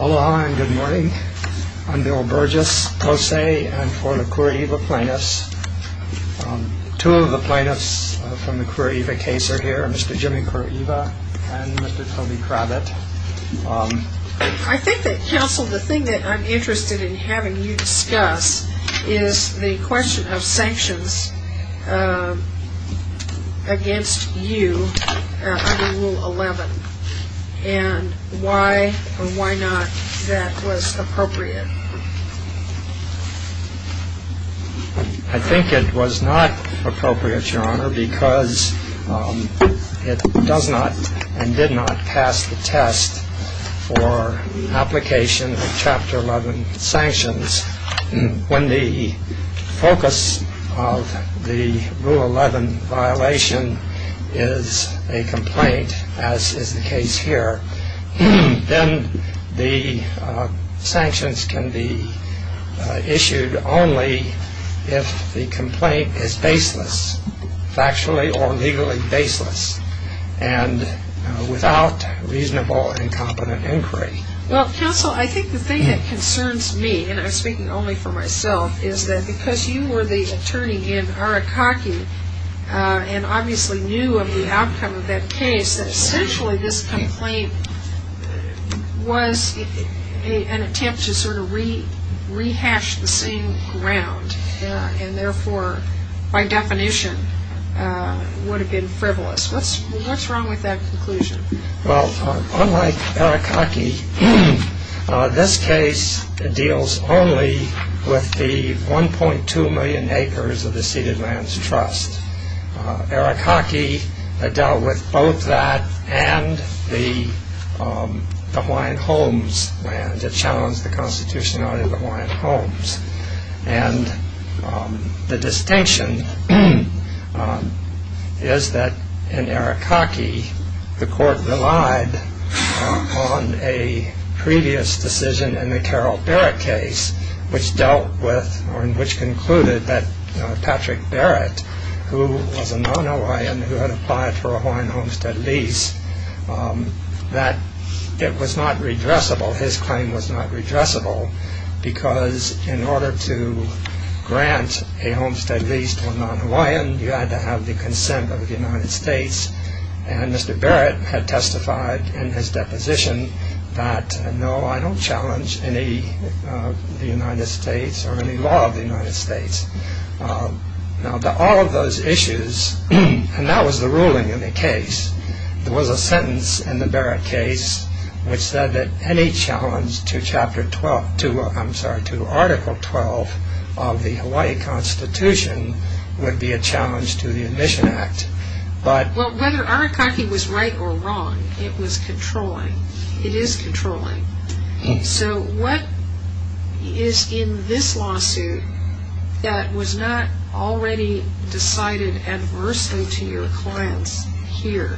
Aloha and good morning. I'm Bill Burgess, Tose. I'm for the Kuroiwa plaintiffs. Two of the plaintiffs from the Kuroiwa case are here, Mr. Jimmy Kuroiwa and Mr. Toby Cravett. I think that, counsel, the thing that I'm interested in having you discuss is the question of sanctions against you under Rule 11. And why or why not that was appropriate? I think it was not appropriate, Your Honor, because it does not and did not pass the test for application of Chapter 11 sanctions. When the focus of the Rule 11 violation is a complaint, as is the case here, then the sanctions can be issued only if the complaint is baseless, factually or legally baseless, and without reasonable and competent inquiry. Well, counsel, I think the thing that concerns me, and I'm speaking only for myself, is that because you were the attorney in Arakaki and obviously knew of the outcome of that case, that essentially this complaint was an attempt to sort of rehash the same ground and therefore, by definition, would have been frivolous. What's wrong with that conclusion? Well, unlike Arakaki, this case deals only with the 1.2 million acres of the ceded lands trust. Arakaki dealt with both that and the Hawaiian homes land. It challenged the constitutionality of the Hawaiian homes. And the distinction is that in Arakaki, the court relied on a previous decision in the Carol Barrett case, which dealt with or which concluded that Patrick Barrett, who was a non-Hawaiian, who had applied for a Hawaiian homestead lease, that it was not redressable. His claim was not redressable because in order to grant a homestead lease to a non-Hawaiian, you had to have the consent of the United States. And Mr. Barrett had testified in his deposition that, no, I don't challenge any of the United States or any law of the United States. Now, to all of those issues, and that was the ruling in the case, there was a sentence in the Barrett case which said that any challenge to Chapter 12, I'm sorry, to Article 12 of the Hawaii Constitution would be a challenge to the Admission Act. But whether Arakaki was right or wrong, it was controlling. It is controlling. So what is in this lawsuit that was not already decided adversely to your clients here?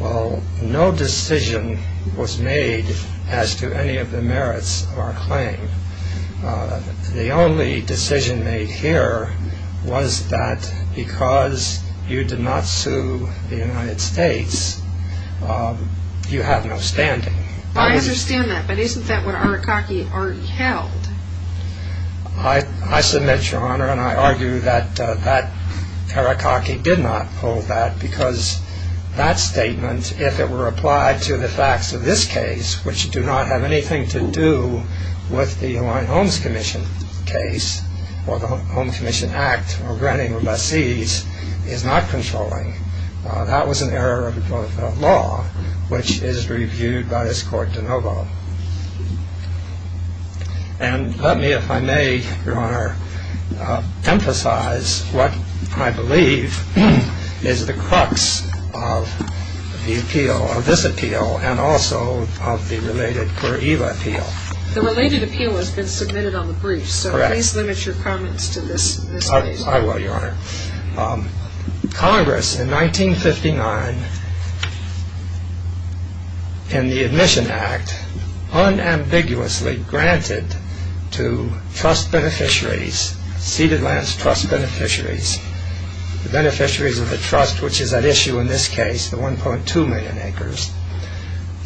Well, no decision was made as to any of the merits of our claim. The only decision made here was that because you did not sue the United States, you have no standing. I understand that, but isn't that what Arakaki already held? I submit, Your Honor, and I argue that Arakaki did not hold that because that statement, if it were applied to the facts of this case, which do not have anything to do with the Hawaiian Homes Commission case or the Homes Commission Act or granting of lessees, is not controlling. That was an error of law which is reviewed by this court de novo. And let me, if I may, Your Honor, emphasize what I believe is the crux of the appeal, of this appeal and also of the related Curaiva appeal. The related appeal has been submitted on the brief. Correct. So please limit your comments to this case. I will, Your Honor. Congress in 1959, in the Admission Act, unambiguously granted to trust beneficiaries, ceded lands trust beneficiaries, the beneficiaries of the trust, which is at issue in this case, the 1.2 million acres,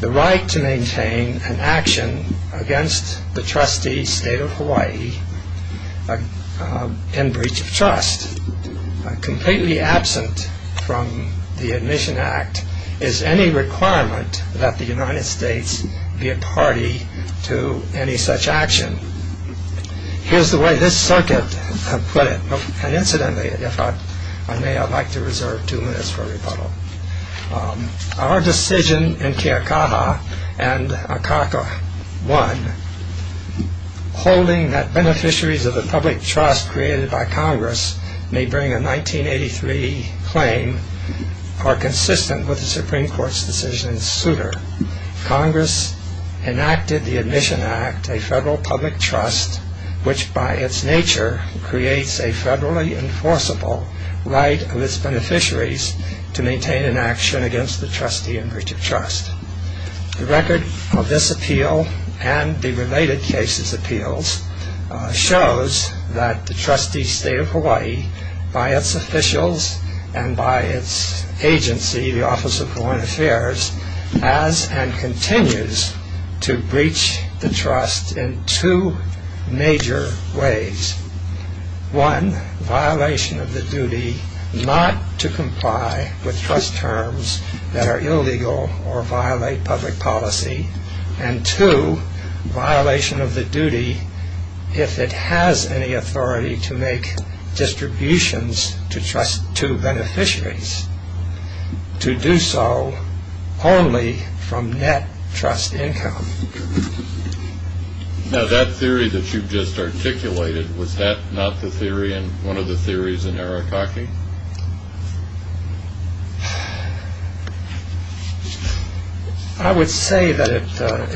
the right to maintain an action against the trustee, State of Hawaii, in breach of trust. Completely absent from the Admission Act is any requirement that the United States be a party to any such action. Here's the way this circuit put it. And incidentally, if I may, I'd like to reserve two minutes for rebuttal. Our decision in Keakaha and Akaka 1, holding that beneficiaries of the public trust created by Congress may bring a 1983 claim are consistent with the Supreme Court's decision in Souter. Congress enacted the Admission Act, a federal public trust, which by its nature creates a federally enforceable right of its beneficiaries to maintain an action against the trustee in breach of trust. The record of this appeal and the related cases appeals shows that the trustee, State of Hawaii, by its officials and by its agency, the Office of Foreign Affairs, has and continues to breach the trust in two major ways. One, violation of the duty not to comply with trust terms that are illegal or violate public policy. And two, violation of the duty, if it has any authority, to make distributions to trust to beneficiaries. To do so only from net trust income. Now, that theory that you've just articulated, was that not the theory in one of the theories in Arakaki? I would say that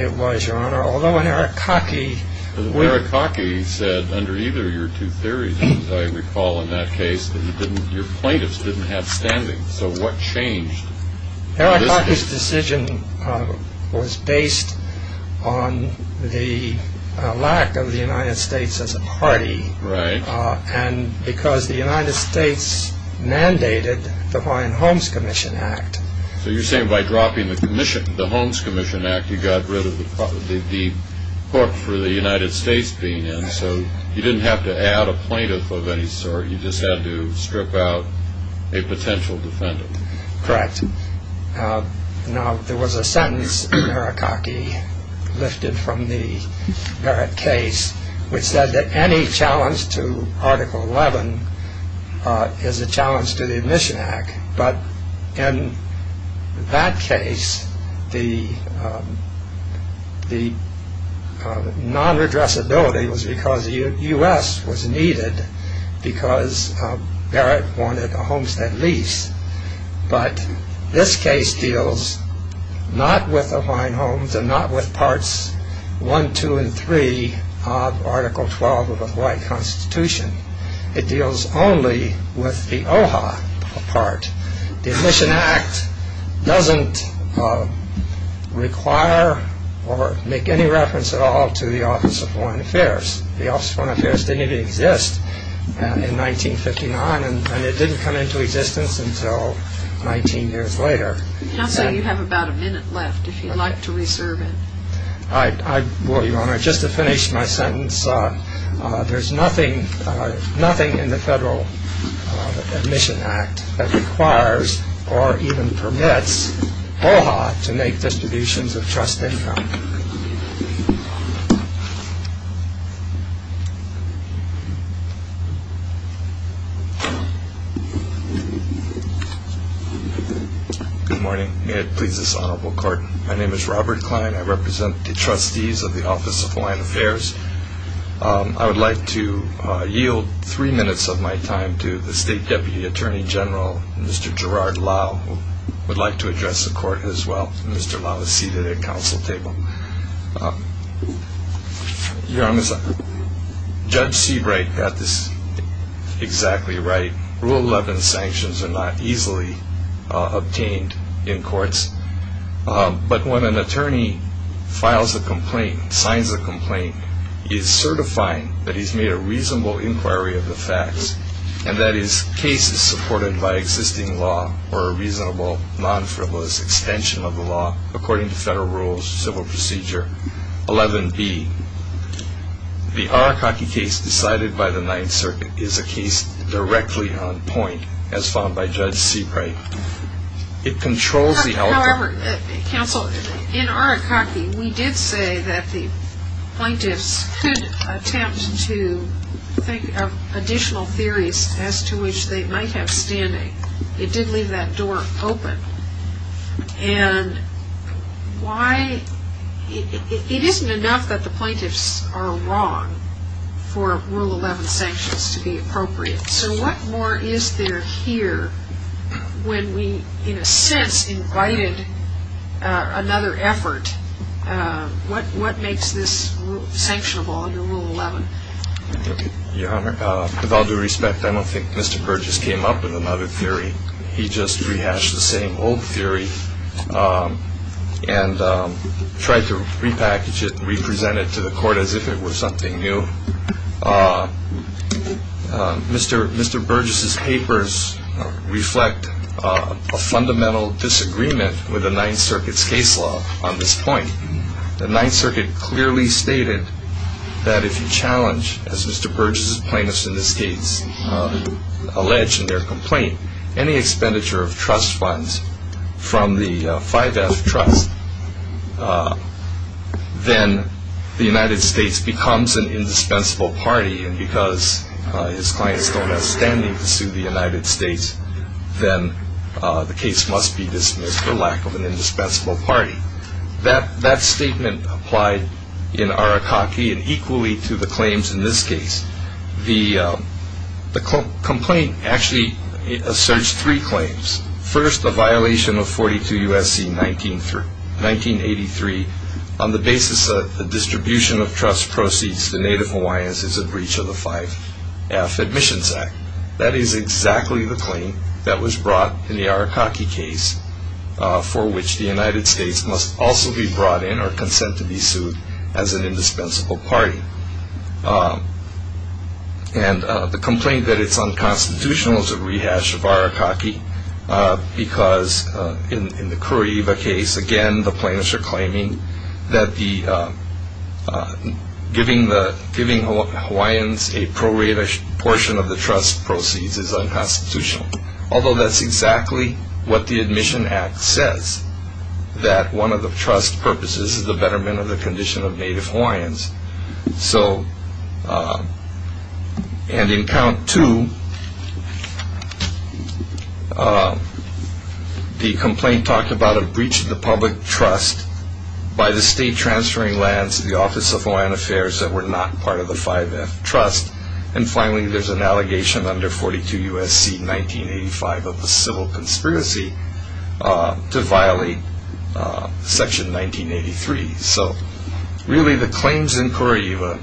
it was, Your Honor, although in Arakaki... Under either of your two theories, as I recall in that case, your plaintiffs didn't have standing. So what changed? Arakaki's decision was based on the lack of the United States as a party. Right. And because the United States mandated the Hawaiian Homes Commission Act. So you're saying by dropping the commission, the Homes Commission Act, you got rid of the book for the United States being in. So you didn't have to add a plaintiff of any sort. You just had to strip out a potential defendant. Correct. Now, there was a sentence in Arakaki, lifted from the Barrett case, which said that any challenge to Article 11 is a challenge to the Admission Act. But in that case, the non-addressability was because the U.S. was needed, because Barrett wanted a homestead lease. But this case deals not with the Hawaiian Homes, and not with Parts 1, 2, and 3 of Article 12 of the Hawaii Constitution. It deals only with the OHA part. The Admission Act doesn't require or make any reference at all to the Office of Foreign Affairs. The Office of Foreign Affairs didn't even exist in 1959, and it didn't come into existence until 19 years later. Counsel, you have about a minute left, if you'd like to reserve it. Well, Your Honor, just to finish my sentence, there's nothing in the Federal Admission Act that requires or even permits OHA to make distributions of trust income. Good morning. May it please this Honorable Court. My name is Robert Klein. I represent the Trustees of the Office of Foreign Affairs. I would like to yield three minutes of my time to the State Deputy Attorney General, Mr. Gerard Lau, who would like to address the Court as well. Mr. Lau is seated at the Council Table. Your Honor, Judge Seabright got this exactly right. Rule 11 sanctions are not easily obtained in courts. But when an attorney files a complaint, signs a complaint, he is certifying that he's made a reasonable inquiry of the facts, and that his case is supported by existing law or a reasonable, non-frivolous extension of the law according to Federal rules, civil procedure. 11b, the Arakaki case decided by the Ninth Circuit is a case directly on point, as found by Judge Seabright. It controls the elephant. However, Counsel, in Arakaki, we did say that the plaintiffs could attempt to think of additional theories as to which they might have standing. It did leave that door open. And why? It isn't enough that the plaintiffs are wrong for Rule 11 sanctions to be appropriate. So what more is there here when we, in a sense, invited another effort? What makes this sanctionable under Rule 11? Your Honor, with all due respect, I don't think Mr. Burgess came up with another theory. He just rehashed the same old theory and tried to repackage it and represent it to the Court as if it were something new. Mr. Burgess's papers reflect a fundamental disagreement with the Ninth Circuit's case law on this point. The Ninth Circuit clearly stated that if you challenge, as Mr. Burgess's plaintiffs in this case allege in their complaint, any expenditure of trust funds from the 5F Trust, then the United States becomes an indispensable party. And because his clients don't have standing to sue the United States, then the case must be dismissed for lack of an indispensable party. That statement applied in Arakaki and equally to the claims in this case. The complaint actually asserts three claims. First, a violation of 42 U.S.C. 1983 on the basis that the distribution of trust proceeds to Native Hawaiians is a breach of the 5F Admissions Act. That is exactly the claim that was brought in the Arakaki case for which the United States must also be brought in or consent to be sued as an indispensable party. And the complaint that it's unconstitutional is a rehash of Arakaki because in the Kureiva case, again, the plaintiffs are claiming that giving Hawaiians a prorated portion of the trust proceeds is unconstitutional. Although that's exactly what the Admissions Act says, that one of the trust purposes is the betterment of the condition of Native Hawaiians. And in count two, the complaint talked about a breach of the public trust by the state transferring land to the Office of Hawaiian Affairs that were not part of the 5F Trust. And finally, there's an allegation under 42 U.S.C. 1985 of a civil conspiracy to violate Section 1983. So really, the claims in Kureiva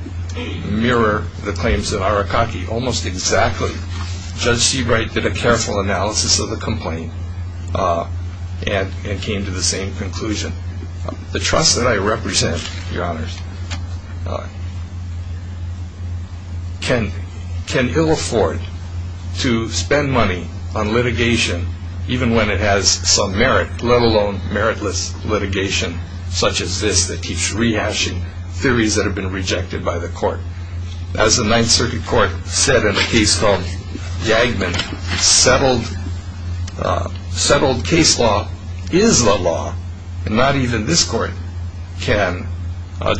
mirror the claims in Arakaki almost exactly. Judge Seabright did a careful analysis of the complaint and came to the same conclusion. The trust that I represent, Your Honors, can ill afford to spend money on litigation even when it has some merit, let alone meritless litigation such as this that keeps rehashing theories that have been rejected by the court. As the Ninth Circuit Court said in a case called Yagman, settled case law is the law and not even this court can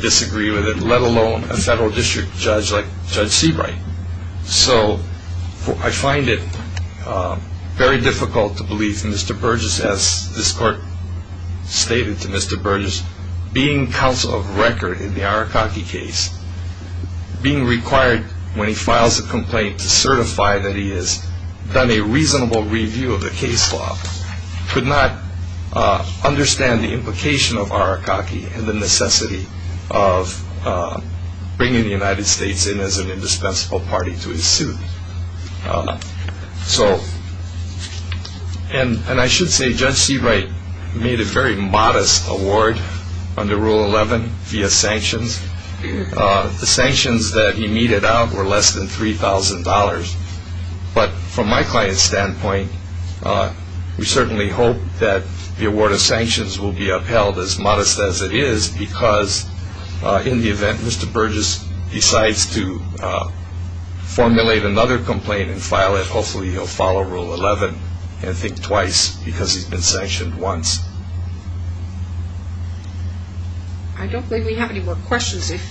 disagree with it, let alone a federal district judge like Judge Seabright. So I find it very difficult to believe that Mr. Burgess, as this court stated to Mr. Burgess, being counsel of record in the Arakaki case, being required when he files a complaint to certify that he has done a reasonable review of the case law, could not understand the implication of Arakaki and the necessity of bringing the United States in as an indispensable party to his suit. And I should say Judge Seabright made a very modest award under Rule 11 via sanctions. The sanctions that he meted out were less than $3,000. But from my client's standpoint, we certainly hope that the award of sanctions will be upheld as modest as it is because in the event Mr. Burgess decides to formulate another complaint and file it, hopefully he'll follow Rule 11 and think twice because he's been sanctioned once. I don't believe we have any more questions. If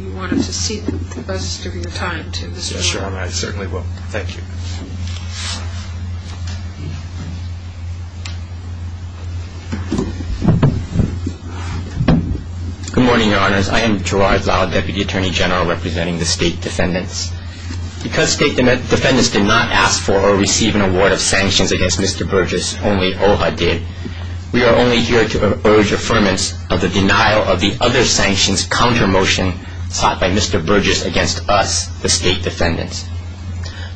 you wanted to see the buzzers, give me the time to. Yes, Your Honor, I certainly will. Thank you. Good morning, Your Honors. I am Gerard Lau, Deputy Attorney General representing the State Defendants. Because State Defendants did not ask for or receive an award of sanctions against Mr. Burgess, only OHA did, we are only here to urge affirmance of the denial of the other sanctions counter-motion sought by Mr. Burgess against us, the State Defendants.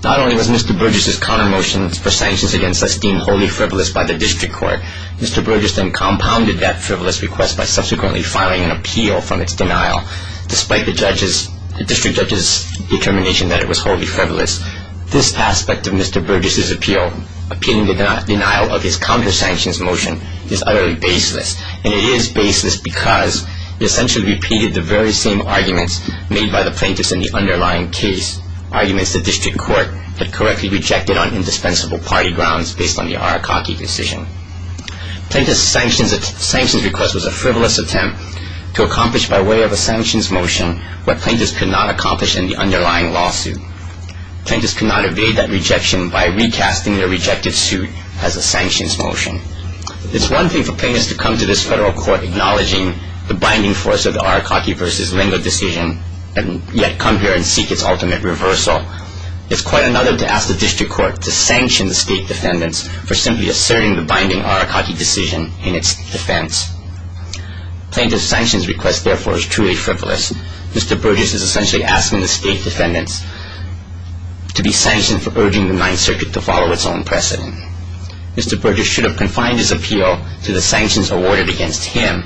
Not only was Mr. Burgess's counter-motion for sanctions against esteemed holy frivolous by the District Court, Mr. Burgess then compounded that frivolous request by subsequently filing an appeal from its denial, despite the district judge's determination that it was wholly frivolous. This aspect of Mr. Burgess's appeal, appealing the denial of his counter-sanctions motion, is utterly baseless. And it is baseless because he essentially repeated the very same arguments made by the plaintiffs in the underlying case, arguments the District Court had correctly rejected on indispensable party grounds based on the Arakaki decision. Plaintiff's sanctions request was a frivolous attempt to accomplish by way of a sanctions motion what plaintiffs could not accomplish in the underlying lawsuit. Plaintiffs could not evade that rejection by recasting their rejected suit as a sanctions motion. It is one thing for plaintiffs to come to this federal court acknowledging the binding force of the Arakaki v. Lingo decision, and yet come here and seek its ultimate reversal. It's quite another to ask the District Court to sanction the state defendants for simply asserting the binding Arakaki decision in its defense. Plaintiff's sanctions request, therefore, is truly frivolous. Mr. Burgess is essentially asking the state defendants to be sanctioned for urging the Ninth Circuit to follow its own precedent. Mr. Burgess should have confined his appeal to the sanctions awarded against him,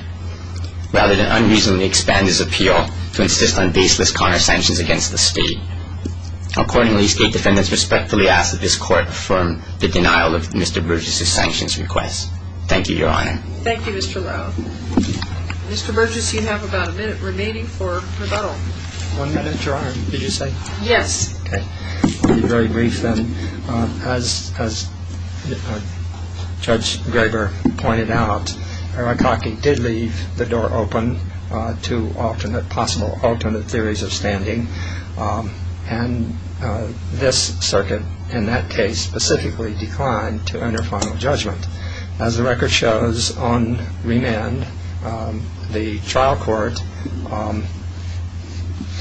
rather than unreasonably expand his appeal to insist on baseless counter-sanctions against the state. Accordingly, state defendants respectfully ask that this Court affirm the denial of Mr. Burgess' sanctions request. Thank you, Your Honor. Thank you, Mr. Lau. Mr. Burgess, you have about a minute remaining for rebuttal. One minute, Your Honor, did you say? Yes. Okay. I'll be very brief then. As Judge Graber pointed out, Arakaki did leave the door open to possible alternate theories of standing, and this Circuit, in that case, specifically declined to enter final judgment. As the record shows on remand, the trial court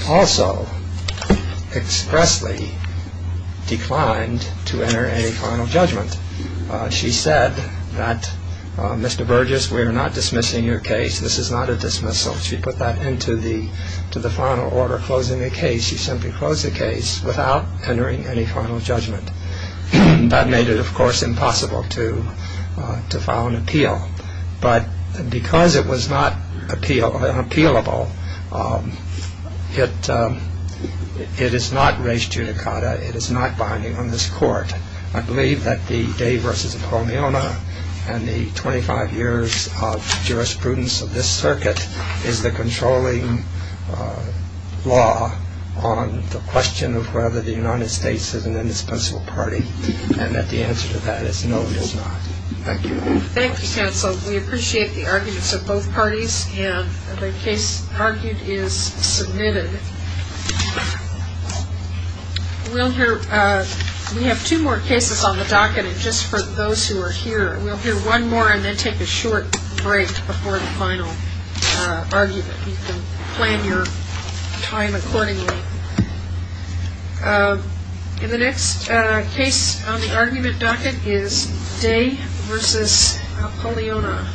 also expressly declined to enter any final judgment. She said that, Mr. Burgess, we are not dismissing your case. This is not a dismissal. She put that into the final order, closing the case. She simply closed the case without entering any final judgment. That made it, of course, impossible to file an appeal. But because it was not appealable, it is not res judicata. It is not binding on this Court. I believe that the day versus a promiona and the 25 years of jurisprudence of this Circuit is the controlling law on the question of whether the United States is an indispensable party, and that the answer to that is no, it is not. Thank you. Thank you, counsel. We appreciate the arguments of both parties, and the case argued is submitted. We have two more cases on the docket, and just for those who are here, we'll hear one more and then take a short break before the final argument. You can plan your time accordingly. In the next case on the argument docket is day versus promiona. Perfect.